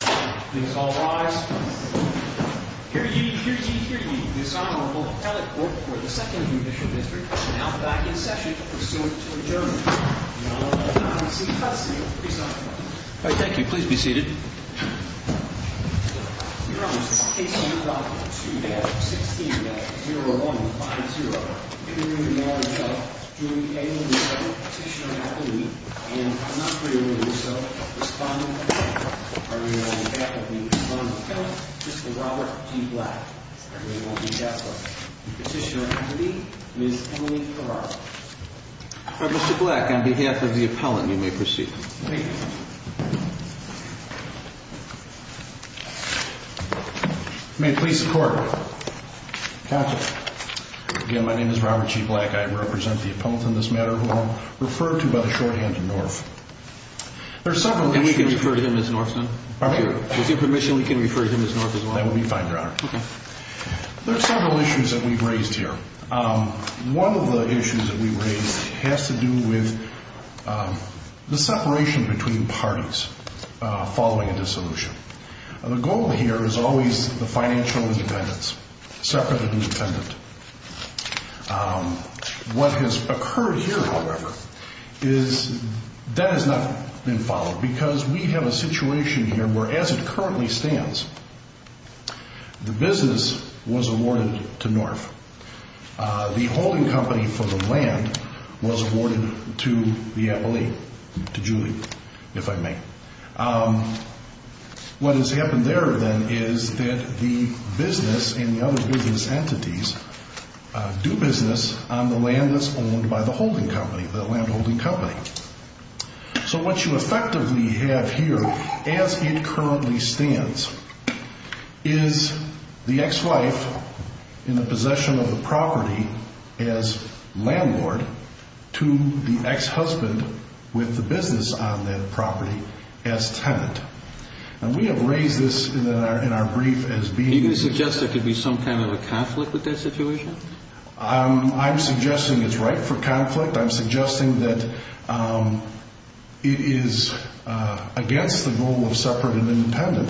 Please all rise. Hear ye, hear ye, hear ye. This Honorable Appellate Court for the 2nd Judicial District is now back in session to pursue its adjournment. And I will now proceed to custody of the presiding judge. All right, thank you. Please be seated. Your Honor, in the case of your daughter, 2-F-16-0-1-5-0, in the name of the Mayor himself, do we any of the following petitioner and appellee, and if not for your will do so, respond in the name of the Court. I will be on behalf of the Honorable Appellate, Mr. Robert D. Black. I will be on behalf of the petitioner and appellee, Ms. Emily Farrar. Mr. Black, on behalf of the Appellant, you may proceed. Thank you. You may please support. Thank you. Again, my name is Robert G. Black. I represent the Appellant in this matter, who I'll refer to by the shorthand of Norf. There are several issues... Can we refer to him as Norf, sir? Pardon me? With your permission, we can refer to him as Norf as well. That would be fine, Your Honor. Okay. There are several issues that we've raised here. One of the issues that we've raised has to do with the separation between parties following a dissolution. The goal here is always the financial independence, separate and independent. What has occurred here, however, is that has not been followed because we have a situation here where as it currently stands, the business was awarded to Norf. The holding company for the land was awarded to the appellee, to Julie, if I may. What has happened there, then, is that the business and the other business entities do business on the land that's owned by the holding company, the land holding company. What you effectively have here, as it currently stands, is the ex-wife in the possession of the property as landlord to the ex-husband with the business on that property as tenant. We have raised this in our brief as being... Do you suggest there could be some kind of a conflict with that situation? I'm suggesting it's ripe for conflict. I'm suggesting that it is against the goal of separate and independent.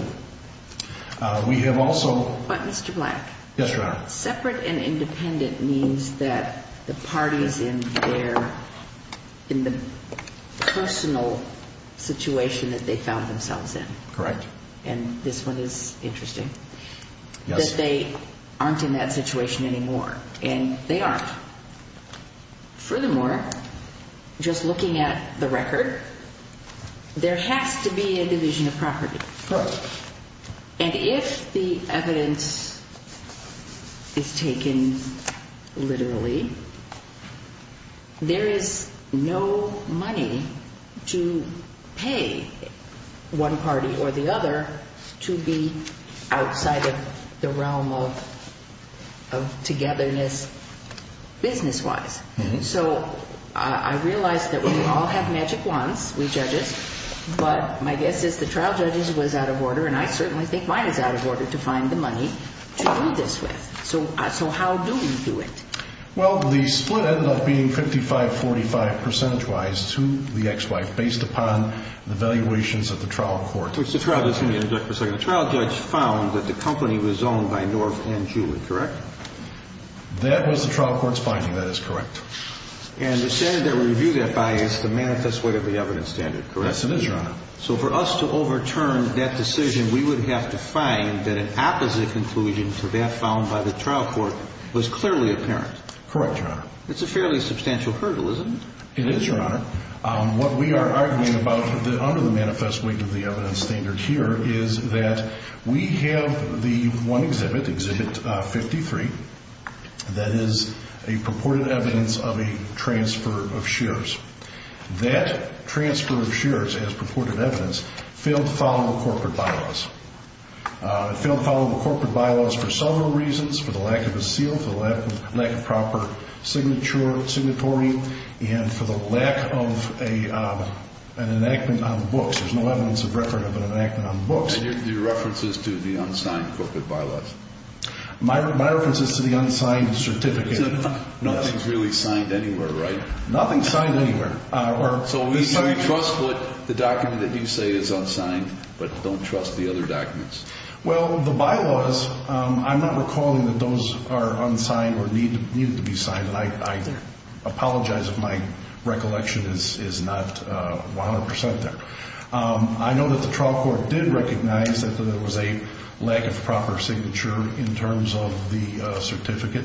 We have also... But, Mr. Black... Yes, Your Honor. Separate and independent means that the party's in their... in the personal situation that they found themselves in. Correct. And this one is interesting. Yes. That they aren't in that situation anymore. And they aren't. Furthermore, just looking at the record, there has to be a division of property. Correct. And if the evidence is taken literally, there is no money to pay one party or the other to be outside of the realm of togetherness business-wise. So, I realize that we all have magic wands, we judges, but my guess is the trial judges was out of order and I certainly think mine is out of order to find the money to do this with. So, how do we do it? Well, the split ended up being 55-45 percentage-wise to the ex-wife based upon the valuations of the trial court. Which the trial judge... Let me interject for a second. The trial judge found that the company was owned by North and Julie, correct? That was the trial court's finding. That is correct. And the standard that we review that by is the manifest weight of the evidence standard, correct? Yes, it is, Your Honor. So, for us to overturn that decision, we would have to find that an opposite conclusion to that found by the trial court was clearly apparent. Correct, Your Honor. It's a fairly substantial hurdle, isn't it? It is, Your Honor. What we are arguing about under the manifest weight of the evidence standard here is that we have the one exhibit, exhibit 53, that is a purported evidence of a transfer of shares. That transfer of shares as purported evidence failed to follow the corporate bylaws. It failed to follow the corporate bylaws for several reasons. For the lack of a seal, for the lack of proper signatory, and for the lack of an enactment on books. There's no evidence of record of an enactment on books. And your reference is to the unsigned corporate bylaws? My reference is to the unsigned certificate. Nothing's really signed anywhere, right? Nothing's signed anywhere. So you trust what the document that you say is unsigned, but don't trust the other documents? Well, the bylaws, I'm not recalling that those are unsigned or needed to be signed. I apologize if my recollection is not 100% there. I know that the trial court did recognize that there was a lack of proper signature in terms of the certificate.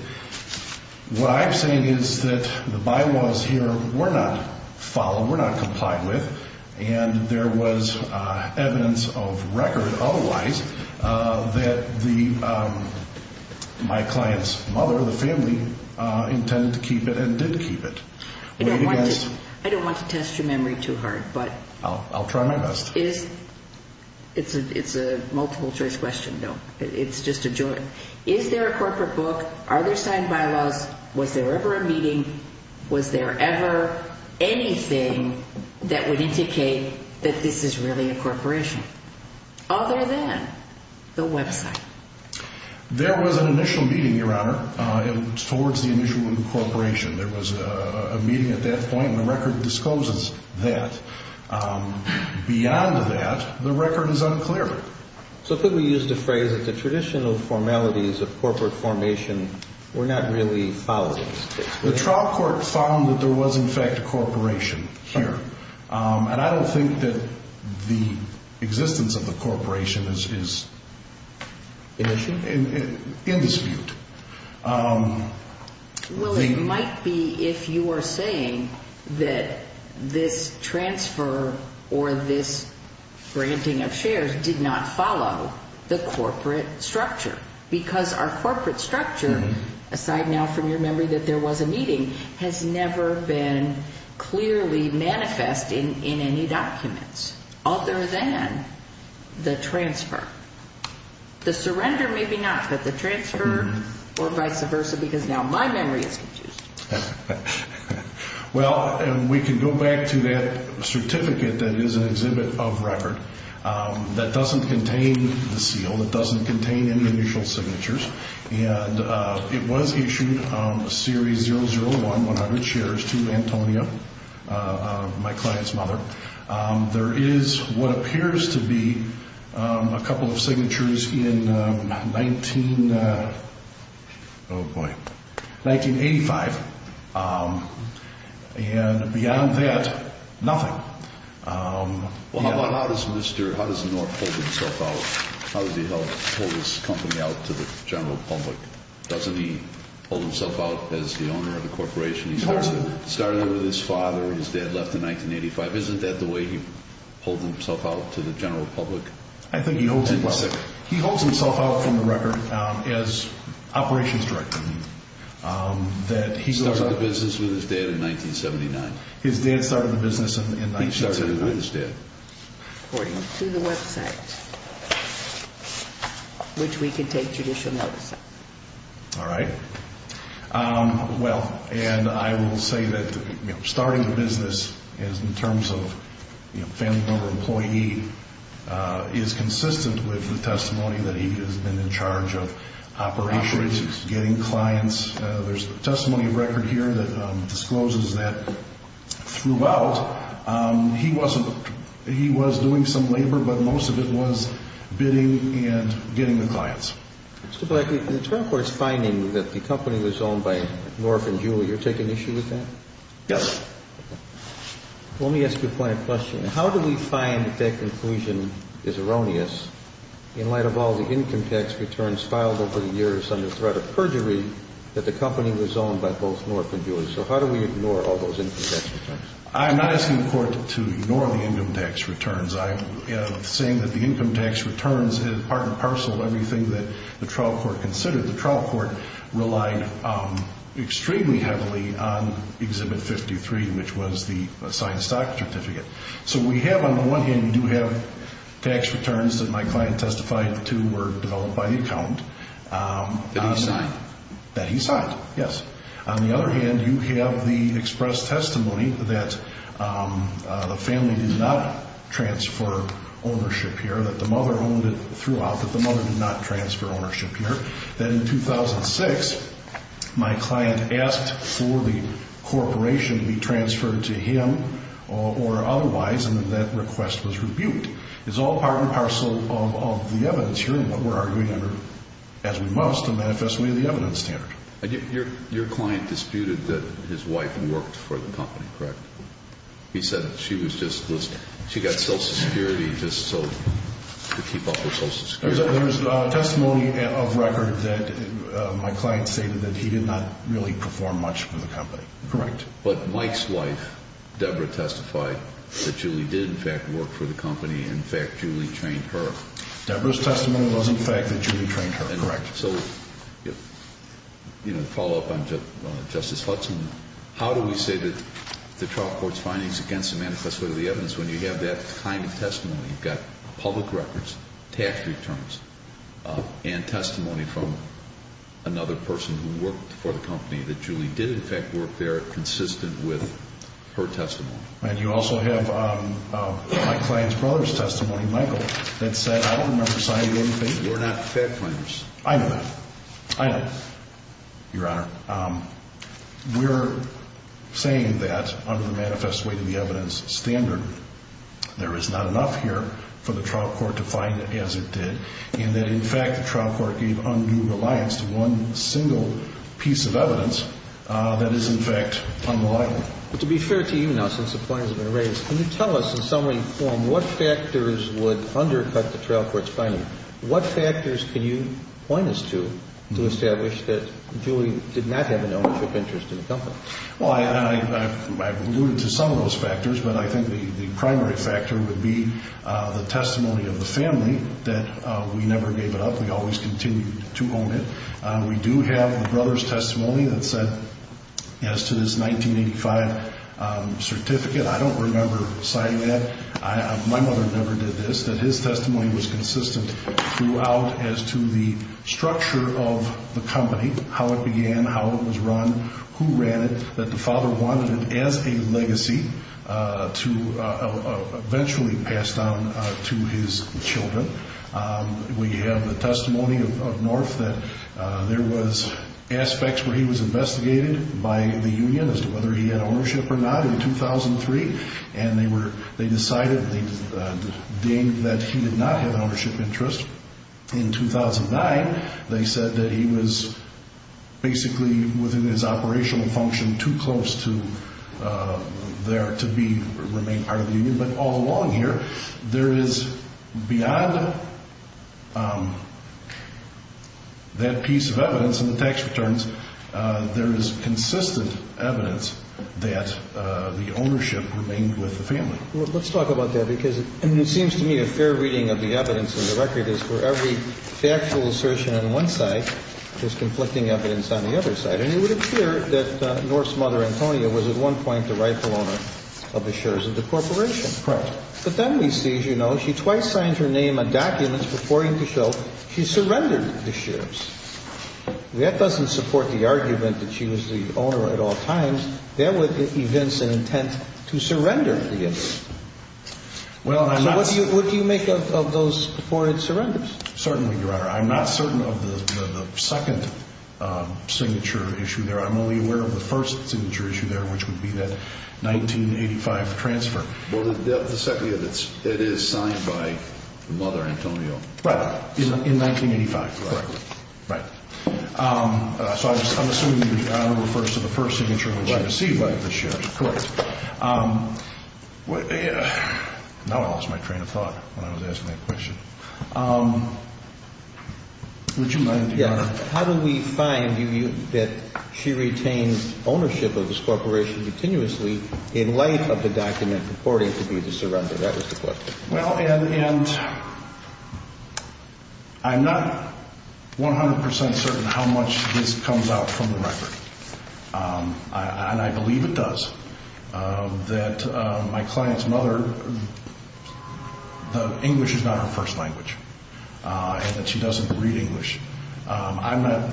What I'm saying is that the bylaws here were not followed, were not complied with, and there was evidence of record otherwise that my client's mother, the family, intended to keep it and did keep it. I don't want to test your memory too hard. I'll try my best. It's a multiple choice question, though. It's just a joy. Is there a corporate book? Are there signed bylaws? Was there ever a meeting? Was there ever anything that would indicate that this is really a corporation other than the website? There was an initial meeting, Your Honor, towards the initial incorporation. There was a meeting at that point, and the record discloses that. Beyond that, the record is unclear. So could we use the phrase that the traditional formalities of corporate formation were not really followed? The trial court found that there was, in fact, a corporation here, and I don't think that the existence of the corporation is in dispute. Well, it might be if you are saying that this transfer or this granting of shares did not follow the corporate structure, because our corporate structure, aside now from your memory that there was a meeting, has never been clearly manifest in any documents other than the transfer. The surrender may be not, but the transfer or vice versa, because now my memory is confused. Well, we can go back to that certificate that is an exhibit of record that doesn't contain the seal. It doesn't contain any initial signatures. It was issued a series 001, 100 shares, to Antonia, my client's mother. There is what appears to be a couple of signatures in 1985, and beyond that, nothing. Well, how does the North hold himself out? How does he hold his company out to the general public? Doesn't he hold himself out as the owner of the corporation? He started it with his father. His dad left in 1985. Isn't that the way he holds himself out to the general public? I think he holds himself out from the record as operations director. He started the business with his dad in 1979. His dad started the business in 1979. He started it with his dad. According to the website, which we can take judicial notice of. All right. Well, and I will say that starting the business is, in terms of family member employee, is consistent with the testimony that he has been in charge of operations, getting clients. There's a testimony of record here that discloses that throughout, he was doing some labor, but most of it was bidding and getting the clients. Mr. Black, in the trial court's finding that the company was owned by North and Jewel, you're taking issue with that? Yes. Let me ask you a point of question. How do we find that that conclusion is erroneous in light of all the income tax returns filed over the years under threat of perjury that the company was owned by both North and Jewel? So how do we ignore all those income tax returns? I'm not asking the court to ignore the income tax returns. I am saying that the income tax returns is part and parcel of everything that the trial court considered. The trial court relied extremely heavily on Exhibit 53, which was the signed stock certificate. So we have, on the one hand, we do have tax returns that my client testified to were developed by the accountant. That he signed? That he signed, yes. On the other hand, you have the expressed testimony that the family did not transfer ownership here, that the mother owned it throughout, that the mother did not transfer ownership here. That in 2006, my client asked for the corporation to be transferred to him or otherwise, and then that request was rebuked. It's all part and parcel of the evidence here and what we're arguing under, as we must, a manifestation of the evidence standard. Your client disputed that his wife worked for the company, correct? He said she was just, she got Social Security just to keep up with Social Security. There's testimony of record that my client stated that he did not really perform much for the company. Correct. But Mike's wife, Deborah, testified that Julie did, in fact, work for the company, in fact, Julie trained her. Deborah's testimony was, in fact, that Julie trained her, correct. So, you know, to follow up on Justice Hudson, how do we say that the trial court's findings against the manifestation of the evidence, when you have that kind of testimony? You've got public records, tax returns, and testimony from another person who worked for the company, that Julie did, in fact, work there consistent with her testimony. And you also have my client's brother's testimony, Michael, that said, I don't remember signing anything. You're not fact finders. I know that. I know. Your Honor, we're saying that under the manifest way to the evidence standard, there is not enough here for the trial court to find as it did, and that, in fact, the trial court gave undue reliance to one single piece of evidence that is, in fact, unliable. To be fair to you now, since the point has been raised, can you tell us in summary form what factors would undercut the trial court's finding? What factors can you point us to to establish that Julie did not have an ownership interest in the company? Well, I've alluded to some of those factors, but I think the primary factor would be the testimony of the family that we never gave it up. We always continued to own it. We do have the brother's testimony that said, as to this 1985 certificate, I don't remember signing that. My mother never did this, that his testimony was consistent throughout as to the structure of the company, how it began, how it was run, who ran it, that the father wanted it as a legacy to eventually pass down to his children. We have the testimony of North that there was aspects where he was investigated by the union as to whether he had ownership or not in 2003, and they decided the day that he did not have an ownership interest in 2009, they said that he was basically within his operational function too close to there to remain part of the union. But all along here, there is, beyond that piece of evidence and the tax returns, there is consistent evidence that the ownership remained with the family. Let's talk about that because it seems to me a fair reading of the evidence in the record is for every factual assertion on one side, there's conflicting evidence on the other side. And it would appear that North's mother, Antonia, was at one point the rightful owner of the shares of the corporation. Correct. But then we see, as you know, she twice signed her name on documents purporting to show she surrendered the shares. That doesn't support the argument that she was the owner at all times. That would evince an intent to surrender the shares. What do you make of those purported surrenders? Certainly, Your Honor. I'm not certain of the second signature issue there. I'm only aware of the first signature issue there, which would be that 1985 transfer. Well, the second year, it is signed by the mother, Antonia. Right. In 1985. Correct. Right. So I'm assuming Your Honor refers to the first signature which was received by the shares. Correct. Now I lost my train of thought when I was asking that question. Would you mind, Your Honor? How do we find that she retains ownership of this corporation continuously in light of the document purporting to be the surrender? That was the question. Well, and I'm not 100 percent certain how much this comes out from the record. And I believe it does, that my client's mother, the English is not her first language and that she doesn't read English. I'm not,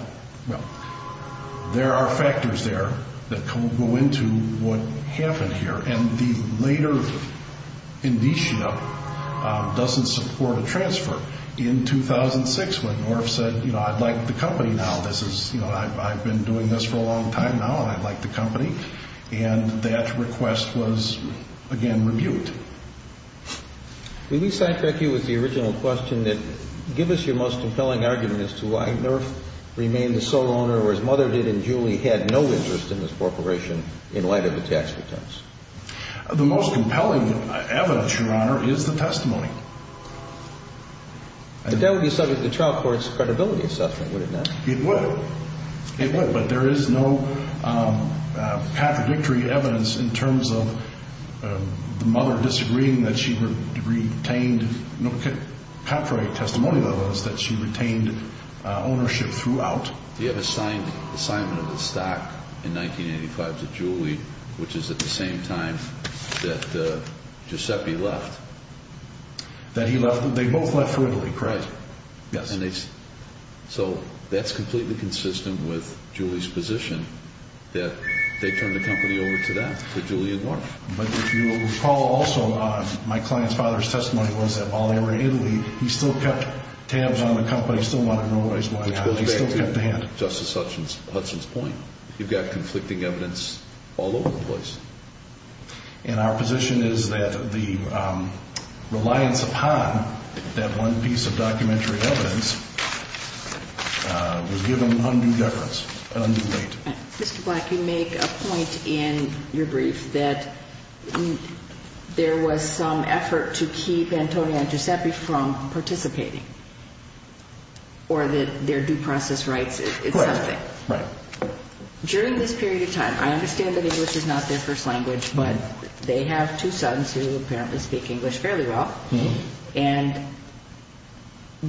well, there are factors there that go into what happened here. And the later indicia doesn't support a transfer. In 2006, when North said, you know, I'd like the company now. This is, you know, I've been doing this for a long time now and I'd like the company. And that request was, again, rebuked. Let me cite back you with the original question that give us your most compelling argument as to why North remained the sole owner, whereas Mother did and Julie had no interest in this corporation in light of the tax returns. The most compelling evidence, Your Honor, is the testimony. But that would be subject to trial court's credibility assessment, would it not? It would. It would, but there is no contradictory evidence in terms of the mother disagreeing that she retained, no contrary testimony, though, is that she retained ownership throughout. You have a signed assignment of the stock in 1985 to Julie, which is at the same time that Giuseppe left. That he left, they both left for Italy, correct? Yes. So that's completely consistent with Julie's position that they turned the company over to them, to Julie and North. But if you recall also, my client's father's testimony was that while they were in Italy, he still kept tabs on the company, still wanted to know what he was buying out of it. Which goes back to Justice Hudson's point. You've got conflicting evidence all over the place. And our position is that the reliance upon that one piece of documentary evidence was given undue deference, undue weight. Mr. Black, you make a point in your brief that there was some effort to keep Antonio and Giuseppe from participating. Or that their due process rights is something. Correct. During this period of time, I understand that English is not their first language, but they have two sons who apparently speak English fairly well. And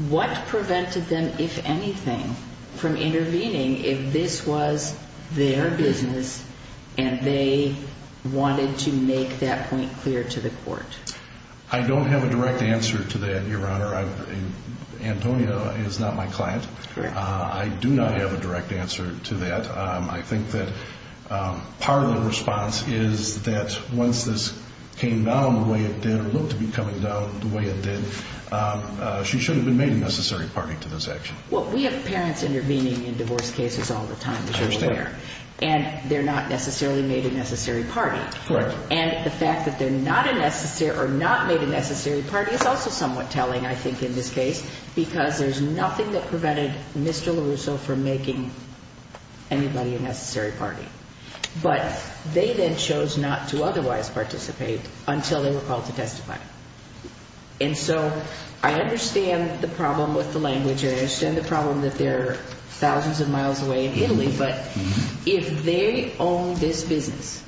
what prevented them, if anything, from intervening if this was their business and they wanted to make that point clear to the court? I don't have a direct answer to that, Your Honor. Antonio is not my client. I do not have a direct answer to that. I think that part of the response is that once this came down the way it did, or looked to be coming down the way it did, she should have been made a necessary party to this action. Well, we have parents intervening in divorce cases all the time, as you're aware. I understand. And they're not necessarily made a necessary party. Correct. And the fact that they're not made a necessary party is also somewhat telling, I think, in this case, because there's nothing that prevented Mr. LaRusso from making anybody a necessary party. But they then chose not to otherwise participate until they were called to testify. And so I understand the problem with the language. I understand the problem that they're thousands of miles away in Italy. But if they own this business,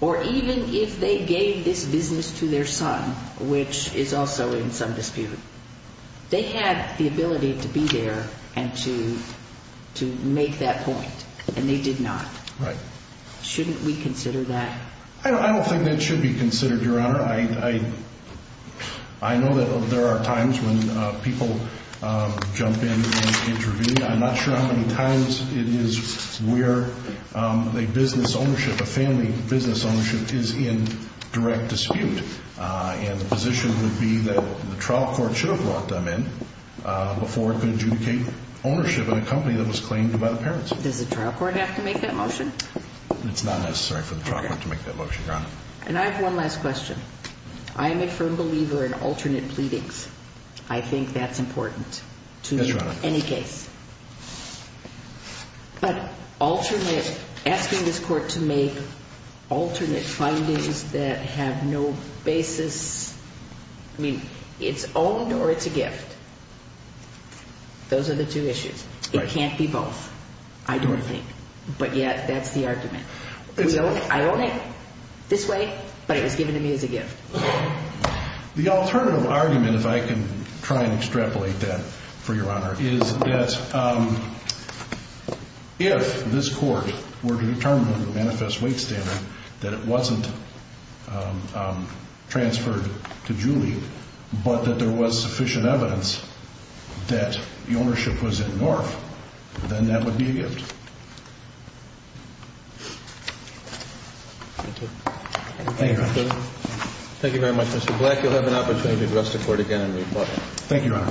or even if they gave this business to their son, which is also in some dispute, they had the ability to be there and to make that point, and they did not. Right. Shouldn't we consider that? I don't think that should be considered, Your Honor. I know that there are times when people jump in and intervene. I'm not sure how many times it is where a business ownership, a family business ownership, is in direct dispute. And the position would be that the trial court should have brought them in before it could adjudicate ownership in a company that was claimed by the parents. Does the trial court have to make that motion? It's not necessary for the trial court to make that motion, Your Honor. And I have one last question. I am a firm believer in alternate pleadings. I think that's important. Yes, Your Honor. Any case. But alternate, asking this court to make alternate findings that have no basis, I mean, it's owned or it's a gift. Those are the two issues. Right. It can't be both, I don't think. But yet, that's the argument. I own it this way, but it was given to me as a gift. The alternative argument, if I can try and extrapolate that for Your Honor, is that if this court were to determine the manifest weight standard, that it wasn't transferred to Julie, but that there was sufficient evidence that the ownership was in North, then that would be a gift. Thank you. Thank you, Your Honor. Thank you very much, Mr. Black. You'll have an opportunity to address the court again in rebuttal. Thank you, Your Honor.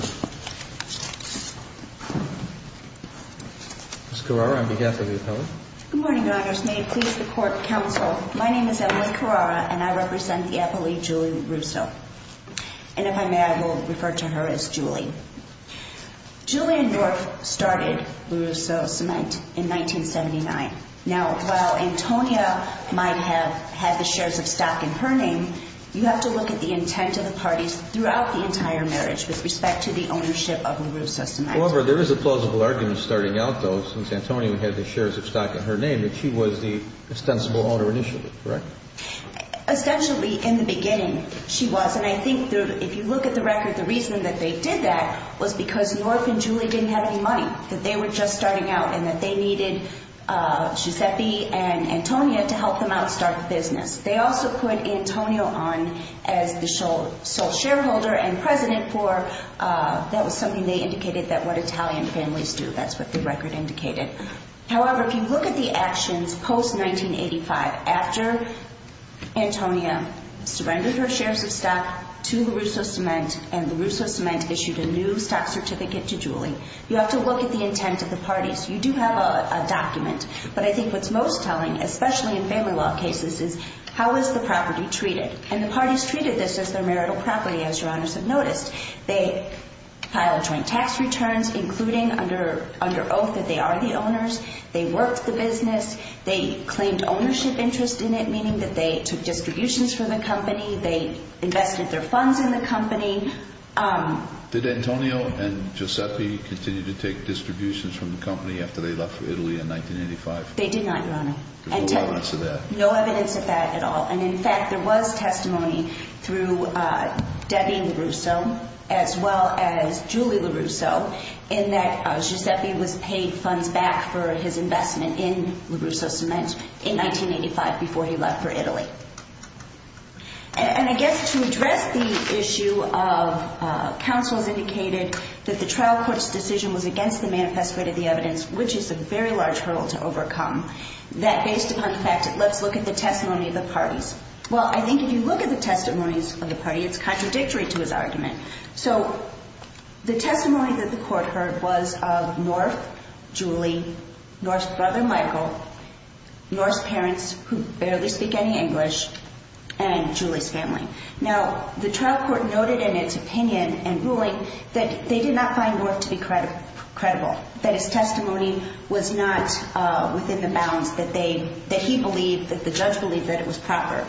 Ms. Carrara, on behalf of the appellate. Good morning, Your Honors. May it please the court and counsel, my name is Emily Carrara, and I represent the appellee Julie Russo. And if I may, I will refer to her as Julie. Julie and North started Russo Cement in 1979. Now, while Antonia might have had the shares of stock in her name, you have to look at the intent of the parties throughout the entire marriage with respect to the ownership of Russo Cement. However, there is a plausible argument starting out, though, since Antonia had the shares of stock in her name, that she was the ostensible owner initially, correct? Essentially, in the beginning, she was. And I think if you look at the record, the reason that they did that was because North and Julie didn't have any money, that they were just starting out, and that they needed Giuseppe and Antonia to help them out and start the business. They also put Antonia on as the sole shareholder and president for, that was something they indicated, that what Italian families do. That's what the record indicated. However, if you look at the actions post-1985, after Antonia surrendered her shares of stock to Russo Cement, and Russo Cement issued a new stock certificate to Julie, you have to look at the intent of the parties. You do have a document. But I think what's most telling, especially in family law cases, is how is the property treated? And the parties treated this as their marital property, as Your Honors have noticed. They filed joint tax returns, including under oath that they are the owners. They worked the business. They claimed ownership interest in it, meaning that they took distributions from the company. They invested their funds in the company. Did Antonia and Giuseppe continue to take distributions from the company after they left for Italy in 1985? They did not, Your Honor. No evidence of that? No evidence of that at all. And, in fact, there was testimony through Debbie LaRusso, as well as Julie LaRusso, in that Giuseppe was paid funds back for his investment in LaRusso Cement in 1985 before he left for Italy. And I guess to address the issue of counsels indicated that the trial court's decision was against the manifest way to the evidence, which is a very large hurdle to overcome, that based upon the fact that let's look at the testimony of the parties. Well, I think if you look at the testimonies of the parties, it's contradictory to his argument. So the testimony that the court heard was of North, Julie, North's brother, Michael, North's parents, who barely speak any English, and Julie's family. Now, the trial court noted in its opinion and ruling that they did not find North to be credible, that his testimony was not within the bounds that he believed, that the judge believed that it was proper.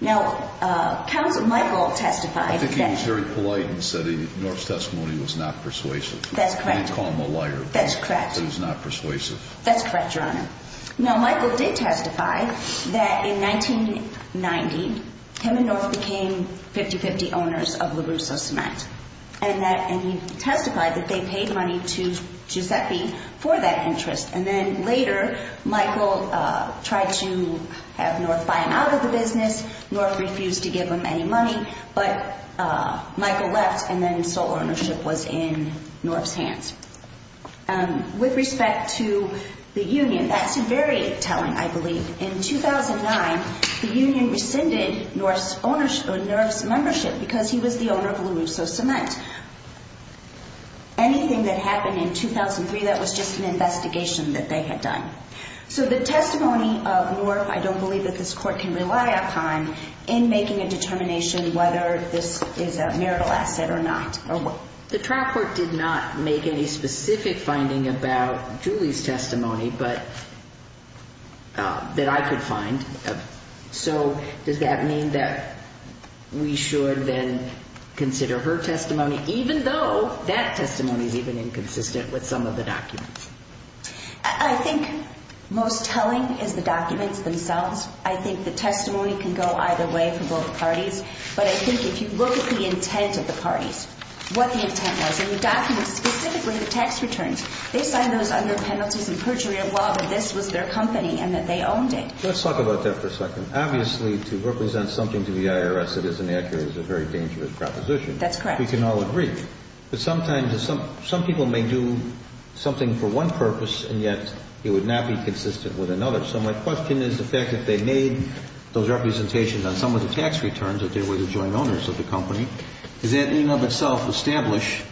Now, Michael testified. I think he was very polite in saying North's testimony was not persuasive. That's correct. You can't call him a liar. That's correct. That he's not persuasive. That's correct, Your Honor. Now, Michael did testify that in 1990, him and North became 50-50 owners of LaRusso Cement, and he testified that they paid money to Giuseppe for that interest. And then later, Michael tried to have North buy him out of the business. North refused to give him any money. But Michael left, and then sole ownership was in North's hands. With respect to the union, that's very telling, I believe. In 2009, the union rescinded North's membership because he was the owner of LaRusso Cement. Anything that happened in 2003, that was just an investigation that they had done. So the testimony of North, I don't believe that this Court can rely upon in making a determination whether this is a marital asset or not. The trial court did not make any specific finding about Julie's testimony that I could find. So does that mean that we should then consider her testimony, even though that testimony is even inconsistent with some of the documents? I think most telling is the documents themselves. I think the testimony can go either way from both parties. But I think if you look at the intent of the parties, what the intent was in the documents, specifically the tax returns, they signed those under penalties and perjury of law that this was their company and that they owned it. Let's talk about that for a second. Obviously, to represent something to the IRS that is inaccurate is a very dangerous proposition. That's correct. We can all agree. But sometimes some people may do something for one purpose, and yet it would not be consistent with another. So my question is the fact that they made those representations on some of the tax returns that they were the joint owners of the company. Does that in and of itself establish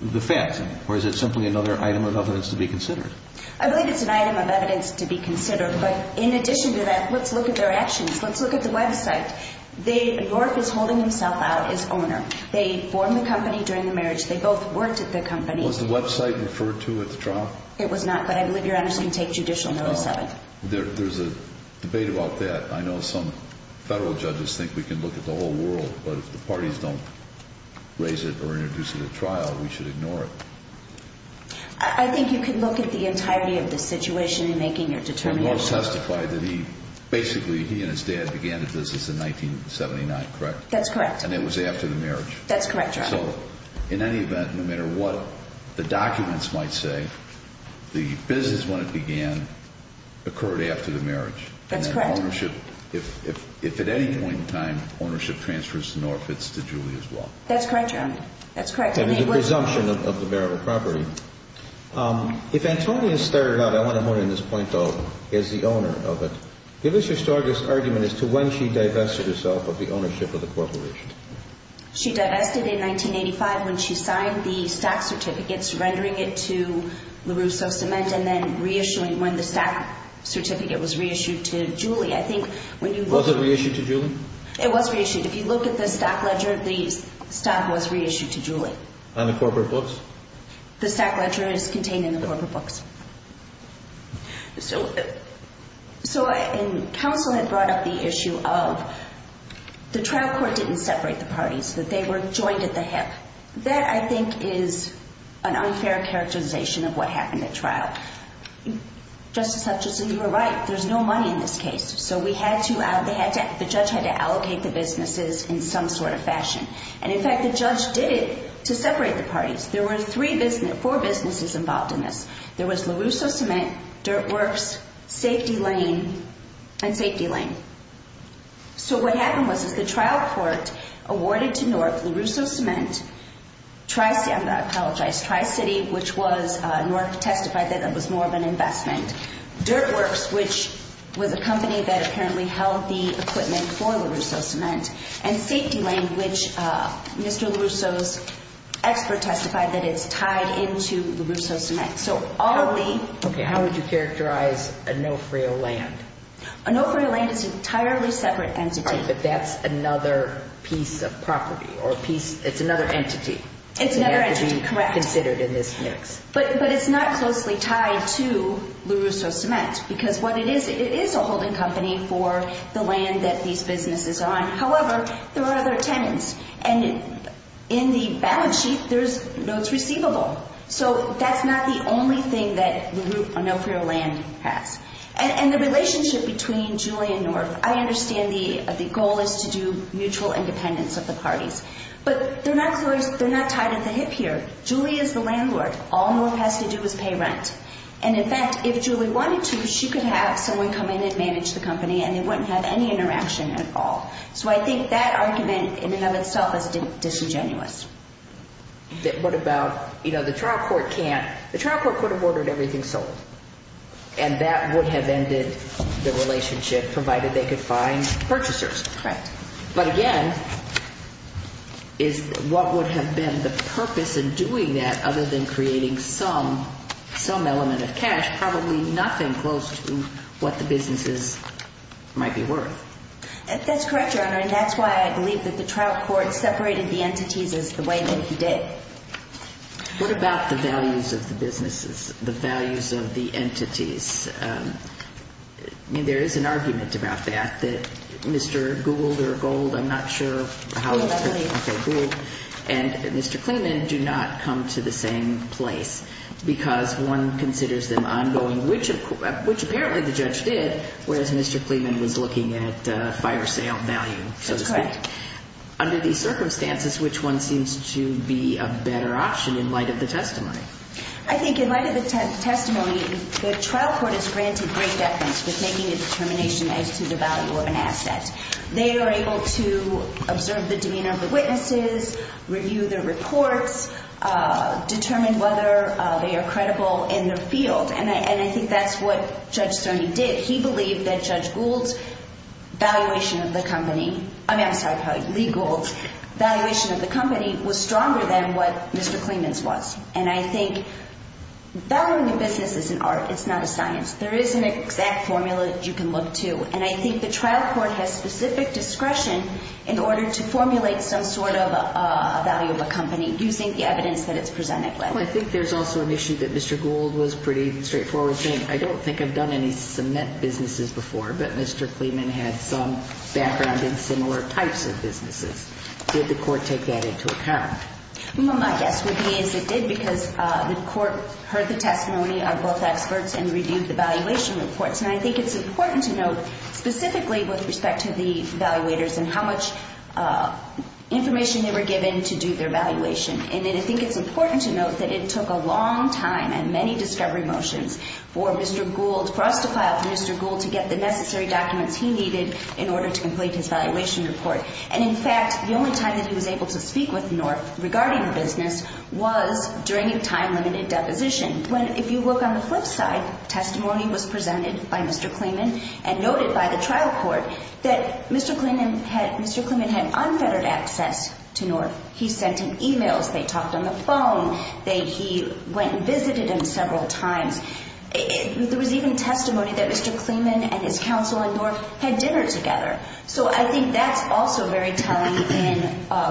the facts, or is it simply another item of evidence to be considered? I believe it's an item of evidence to be considered. But in addition to that, let's look at their actions. Let's look at the website. North is holding himself out as owner. They formed the company during the marriage. They both worked at the company. Was the website referred to at the trial? It was not. But I believe Your Honors can take judicial notice of it. There's a debate about that. I know some federal judges think we can look at the whole world, but if the parties don't raise it or introduce it at trial, we should ignore it. I think you can look at the entirety of the situation in making your determination. North testified that basically he and his dad began the business in 1979, correct? That's correct. That's correct, Your Honor. So in any event, no matter what the documents might say, the business, when it began, occurred after the marriage. That's correct. And then ownership, if at any point in time, ownership transfers to North, it's to Julie as well. That's correct, Your Honor. That's correct. And the presumption of the marital property. If Antonia started out, I want to point out in this point, as the owner of it, give us your strongest argument as to when she divested herself of the ownership of the corporation. She divested in 1985 when she signed the stack certificates, rendering it to LaRusso Cement, and then reissuing when the stack certificate was reissued to Julie. I think when you look... Was it reissued to Julie? It was reissued. If you look at the stack ledger, the stack was reissued to Julie. On the corporate books? The stack ledger is contained in the corporate books. So, and counsel had brought up the issue of the trial court didn't separate the parties, that they were joined at the hip. That, I think, is an unfair characterization of what happened at trial. Justice Hutchinson, you were right. There's no money in this case. So we had to, the judge had to allocate the businesses in some sort of fashion. And, in fact, the judge did it to separate the parties. There were four businesses involved in this. There was LaRusso Cement, Dirt Works, Safety Lane, and Safety Lane. So what happened was the trial court awarded to NORC LaRusso Cement, Tri-City, which was, NORC testified that it was more of an investment. Dirt Works, which was a company that apparently held the equipment for LaRusso Cement, and Safety Lane, which Mr. LaRusso's expert testified that it's tied into LaRusso Cement. So all of the Okay, how would you characterize Onofrio Land? Onofrio Land is an entirely separate entity. But that's another piece of property or piece, it's another entity. It's another entity, correct. Considered in this mix. But it's not closely tied to LaRusso Cement because what it is, it is a holding company for the land that these businesses are on. However, there are other tenants. And in the balance sheet, there's notes receivable. So that's not the only thing that the group Onofrio Land has. And the relationship between Julie and NORC, I understand the goal is to do mutual independence of the parties. But they're not tied at the hip here. Julie is the landlord. All NORC has to do is pay rent. And in fact, if Julie wanted to, she could have someone come in and manage the company and they wouldn't have any interaction at all. So I think that argument in and of itself is disingenuous. What about, you know, the trial court can't, the trial court could have ordered everything sold. And that would have ended the relationship provided they could find purchasers. Correct. But again, is what would have been the purpose in doing that other than creating some element of cash, probably nothing close to what the businesses might be worth. That's correct, Your Honor. And that's why I believe that the trial court separated the entities as the way that he did. What about the values of the businesses, the values of the entities? I mean, there is an argument about that, that Mr. Gould or Gould, I'm not sure how. Gould, I believe. Okay, Gould. And Mr. Kleeman do not come to the same place because one considers them ongoing, which apparently the judge did, whereas Mr. Kleeman was looking at fire sale value, so to speak. That's correct. Under these circumstances, which one seems to be a better option in light of the testimony? I think in light of the testimony, the trial court is granted great deference for taking a determination as to the value of an asset. They are able to observe the demeanor of the witnesses, review their reports, determine whether they are credible in their field. And I think that's what Judge Cerny did. He believed that Judge Gould's valuation of the company, I mean, I'm sorry, probably Lee Gould's, valuation of the company was stronger than what Mr. Kleeman's was. And I think valuing a business is an art. It's not a science. There is an exact formula that you can look to. And I think the trial court has specific discretion in order to formulate some sort of value of a company using the evidence that it's presented with. Well, I think there's also an issue that Mr. Gould was pretty straightforward saying, I don't think I've done any cement businesses before, but Mr. Kleeman had some background in similar types of businesses. Did the court take that into account? Well, my guess would be is it did because the court heard the testimony of both experts and reviewed the valuation reports. And I think it's important to note specifically with respect to the evaluators and how much information they were given to do their valuation. And then I think it's important to note that it took a long time and many discovery motions for Mr. Gould, for us to file for Mr. Gould to get the necessary documents he needed in order to complete his valuation report. And, in fact, the only time that he was able to speak with North regarding the business was during a time-limited deposition. When, if you look on the flip side, testimony was presented by Mr. Kleeman and noted by the trial court that Mr. Kleeman had unfettered access to North. He sent him e-mails. They talked on the phone. He went and visited him several times. There was even testimony that Mr. Kleeman and his counsel in North had dinner together. So I think that's also very telling in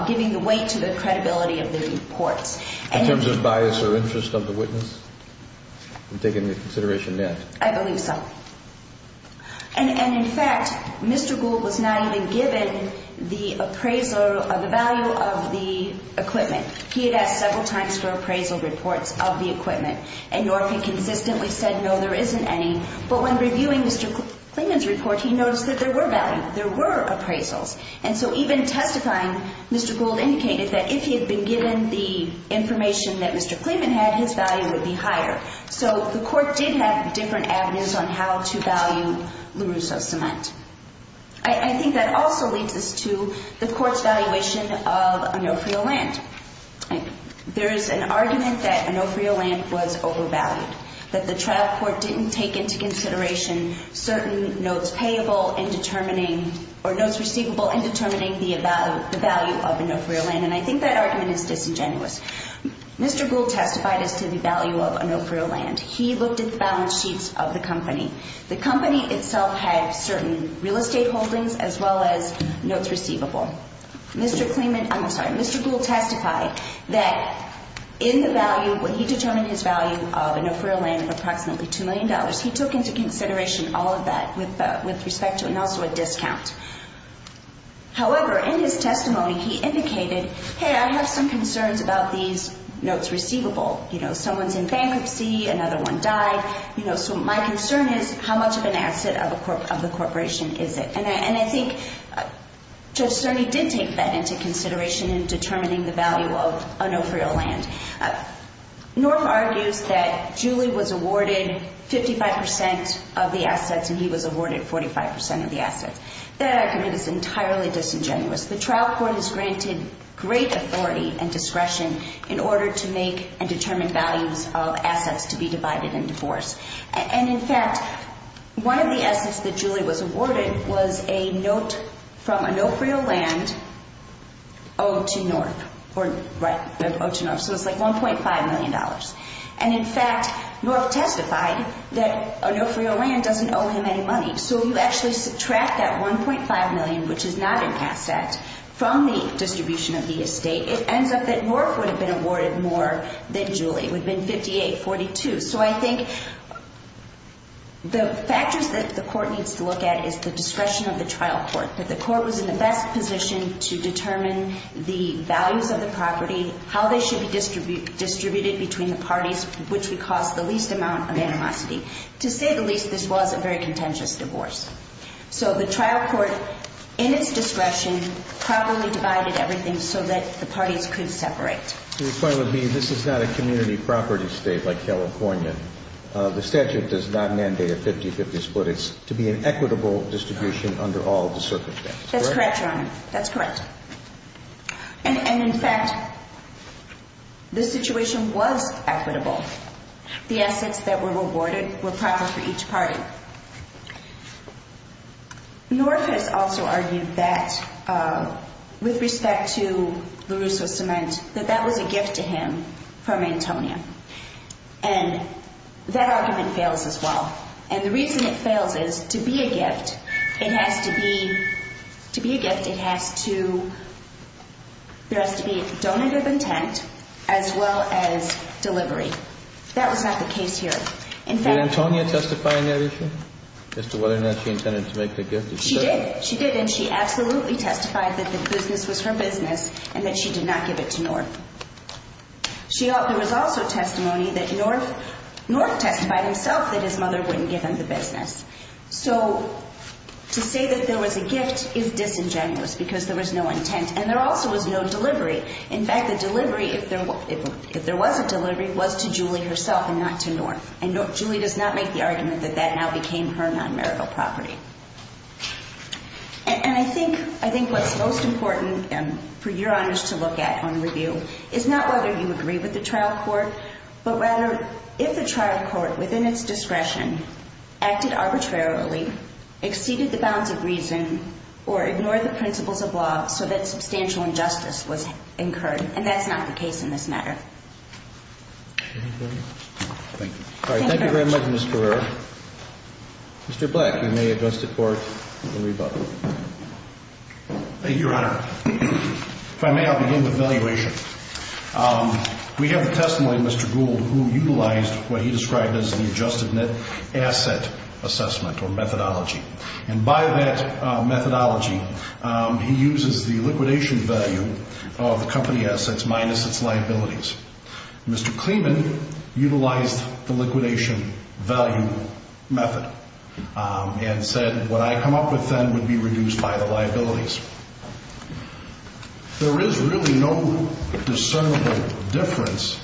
giving the weight to the credibility of the reports. In terms of bias or interest of the witness in taking the consideration met? I believe so. And, in fact, Mr. Gould was not even given the appraisal of the value of the equipment. He had asked several times for appraisal reports of the equipment, and North had consistently said, no, there isn't any. But when reviewing Mr. Kleeman's report, he noticed that there were value. There were appraisals. And so even testifying, Mr. Gould indicated that if he had been given the information that Mr. Kleeman had, his value would be higher. So the court did have different avenues on how to value LaRusso cement. I think that also leads us to the court's valuation of Onofrio land. There is an argument that Onofrio land was overvalued, that the trial court didn't take into consideration certain notes payable in determining or notes receivable in determining the value of Onofrio land. And I think that argument is disingenuous. Mr. Gould testified as to the value of Onofrio land. He looked at the balance sheets of the company. The company itself had certain real estate holdings as well as notes receivable. Mr. Kleeman, I'm sorry, Mr. Gould testified that in the value, when he determined his value of Onofrio land of approximately $2 million, he took into consideration all of that with respect to, and also a discount. However, in his testimony, he indicated, hey, I have some concerns about these notes receivable. You know, someone's in bankruptcy, another one died. You know, so my concern is how much of an asset of the corporation is it? And I think Judge Cerny did take that into consideration in determining the value of Onofrio land. North argues that Julie was awarded 55% of the assets and he was awarded 45% of the assets. That argument is entirely disingenuous. The trial court has granted great authority and discretion in order to make and determine values of assets to be divided and divorced. And, in fact, one of the assets that Julie was awarded was a note from Onofrio land owed to North. So it's like $1.5 million. And, in fact, North testified that Onofrio land doesn't owe him any money. So you actually subtract that $1.5 million, which is not an asset, from the distribution of the estate, it ends up that North would have been awarded more than Julie. It would have been 58-42. So I think the factors that the court needs to look at is the discretion of the trial court, that the court was in the best position to determine the values of the property, how they should be distributed between the parties, which would cause the least amount of animosity. To say the least, this was a very contentious divorce. So the trial court, in its discretion, properly divided everything so that the parties could separate. The point would be this is not a community property state like California. The statute does not mandate a 50-50 split. It's to be an equitable distribution under all the circumstances. That's correct, Your Honor. That's correct. And, in fact, the situation was equitable. The assets that were awarded were proper for each party. North has also argued that, with respect to LaRusso Cement, that that was a gift to him from Antonia. And that argument fails as well. And the reason it fails is, to be a gift, it has to be donative intent as well as delivery. That was not the case here. Did Antonia testify on that issue as to whether or not she intended to make the gift? She did. She did, and she absolutely testified that the business was her business and that she did not give it to North. There was also testimony that North testified himself that his mother wouldn't give him the business. So to say that there was a gift is disingenuous because there was no intent. And there also was no delivery. In fact, the delivery, if there was a delivery, was to Julie herself and not to North. And Julie does not make the argument that that now became her non-marital property. And I think what's most important for Your Honors to look at on review is not whether you agree with the trial court, but rather if the trial court, within its discretion, acted arbitrarily, exceeded the bounds of reason, or ignored the principles of law so that substantial injustice was incurred. And that's not the case in this matter. Thank you. Thank you very much. All right. Thank you very much, Ms. Carrero. Mr. Black, you may adjust at court and rebut. Thank you, Your Honor. If I may, I'll begin with valuation. We have the testimony of Mr. Gould, who utilized what he described as the adjusted net asset assessment or methodology. And by that methodology, he uses the liquidation value of the company assets minus its liabilities. Mr. Kleeman utilized the liquidation value method and said, what I come up with then would be reduced by the liabilities. There is really no discernible difference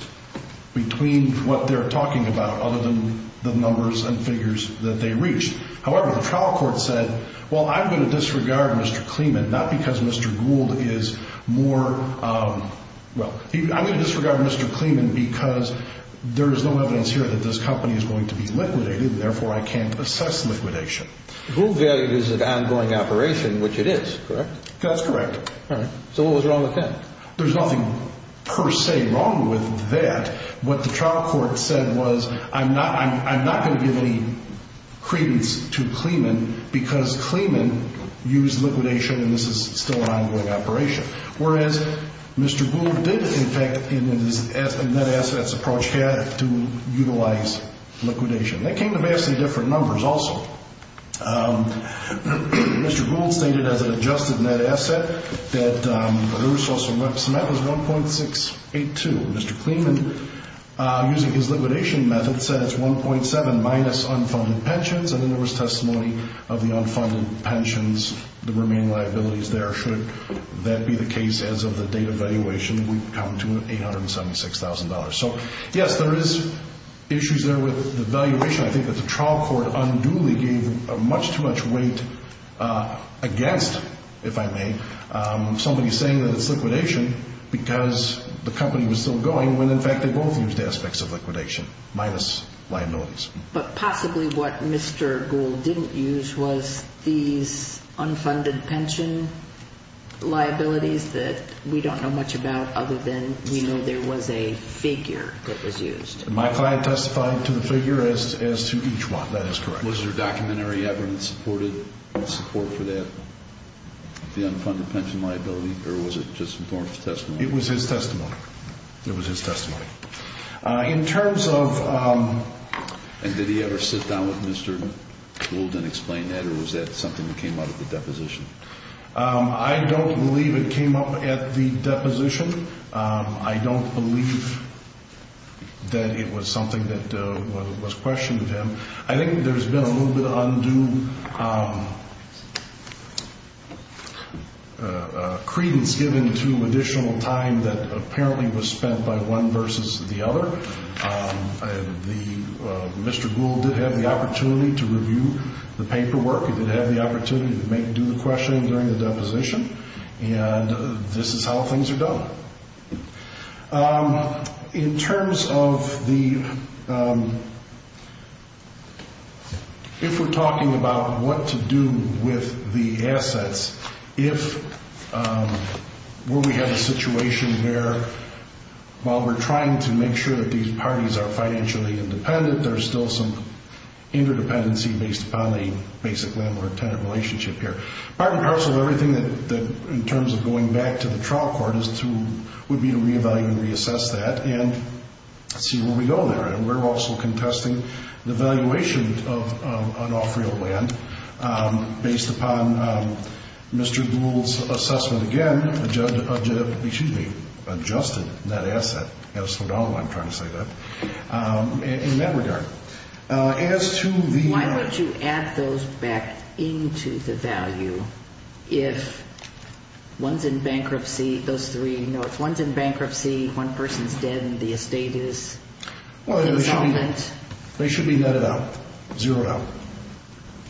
between what they're talking about, other than the numbers and figures that they reached. However, the trial court said, well, I'm going to disregard Mr. Kleeman, not because Mr. Gould is more, well, I'm going to disregard Mr. Kleeman because there is no evidence here that this company is going to be liquidated, and therefore I can't assess liquidation. Gould value is an ongoing operation, which it is, correct? That's correct. All right. So what was wrong with that? There's nothing per se wrong with that. What the trial court said was, I'm not going to give any credence to Kleeman because Kleeman used liquidation, and this is still an ongoing operation. Whereas Mr. Gould did, in fact, in his net assets approach, had to utilize liquidation. They came to vastly different numbers also. Mr. Gould stated as an adjusted net asset that the resource amount was 1.682. Mr. Kleeman, using his liquidation method, said it's 1.7 minus unfunded pensions, and then there was testimony of the unfunded pensions, the remaining liabilities there. Should that be the case as of the date of valuation, we come to $876,000. So, yes, there is issues there with the valuation. I think that the trial court unduly gave much too much weight against, if I may, somebody saying that it's liquidation because the company was still going, when, in fact, they both used aspects of liquidation minus liabilities. But possibly what Mr. Gould didn't use was these unfunded pension liabilities that we don't know much about other than we know there was a figure that was used. My client testified to the figure as to each one. That is correct. Was there documentary evidence supported in support for that, the unfunded pension liability, or was it just Thornton's testimony? It was his testimony. It was his testimony. In terms of... And did he ever sit down with Mr. Gould and explain that, or was that something that came up at the deposition? I don't believe it came up at the deposition. I don't believe that it was something that was questioned with him. I think there's been a little bit of undue credence given to additional time that apparently was spent by one versus the other. Mr. Gould did have the opportunity to review the paperwork. He did have the opportunity to do the questioning during the deposition, and this is how things are done. In terms of the... If we have a situation where, while we're trying to make sure that these parties are financially independent, there's still some interdependency based upon the basic landlord-tenant relationship here. Part and parcel of everything in terms of going back to the trial court would be to reevaluate and reassess that and see where we go there. We're also contesting the valuation of an off-real land based upon Mr. Gould's assessment, again, adjusted that asset as for now, I'm trying to say that, in that regard. As to the... Why would you add those back into the value if one's in bankruptcy, those three, Well, they should be netted out, zeroed out.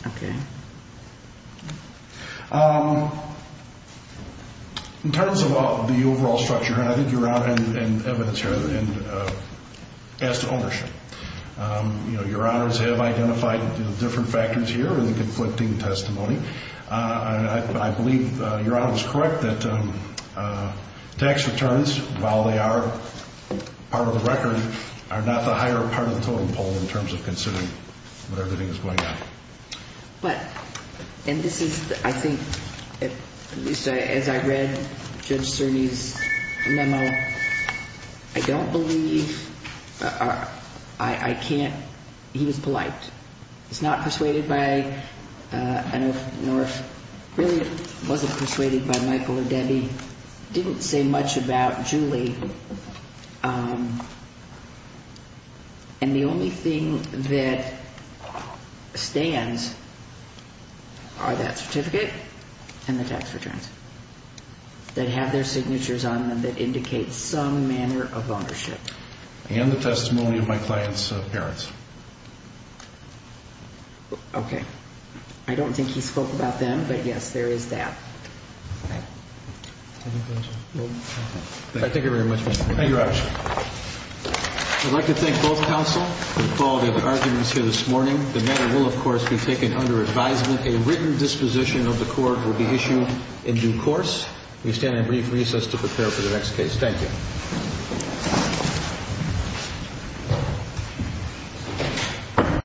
Okay. In terms of the overall structure, and I think Your Honor has evidence here, and as to ownership, Your Honors have identified different factors here in the conflicting testimony. I believe Your Honor was correct that tax returns, while they are part of the record, are not the higher part of the totem pole in terms of considering what everything is going on. But, and this is, I think, at least as I read Judge Cerny's memo, I don't believe, I can't, he was polite. He's not persuaded by, I don't know if, really wasn't persuaded by Michael or Debbie. He didn't say much about Julie. And the only thing that stands are that certificate and the tax returns that have their signatures on them that indicate some manner of ownership. And the testimony of my client's parents. Okay. I don't think he spoke about them, but yes, there is that. Okay. Thank you very much. Thank you, Your Honor. I'd like to thank both counsel for all their arguments here this morning. The matter will, of course, be taken under advisement. A written disposition of the court will be issued in due course. We stand in brief recess to prepare for the next case. Thank you.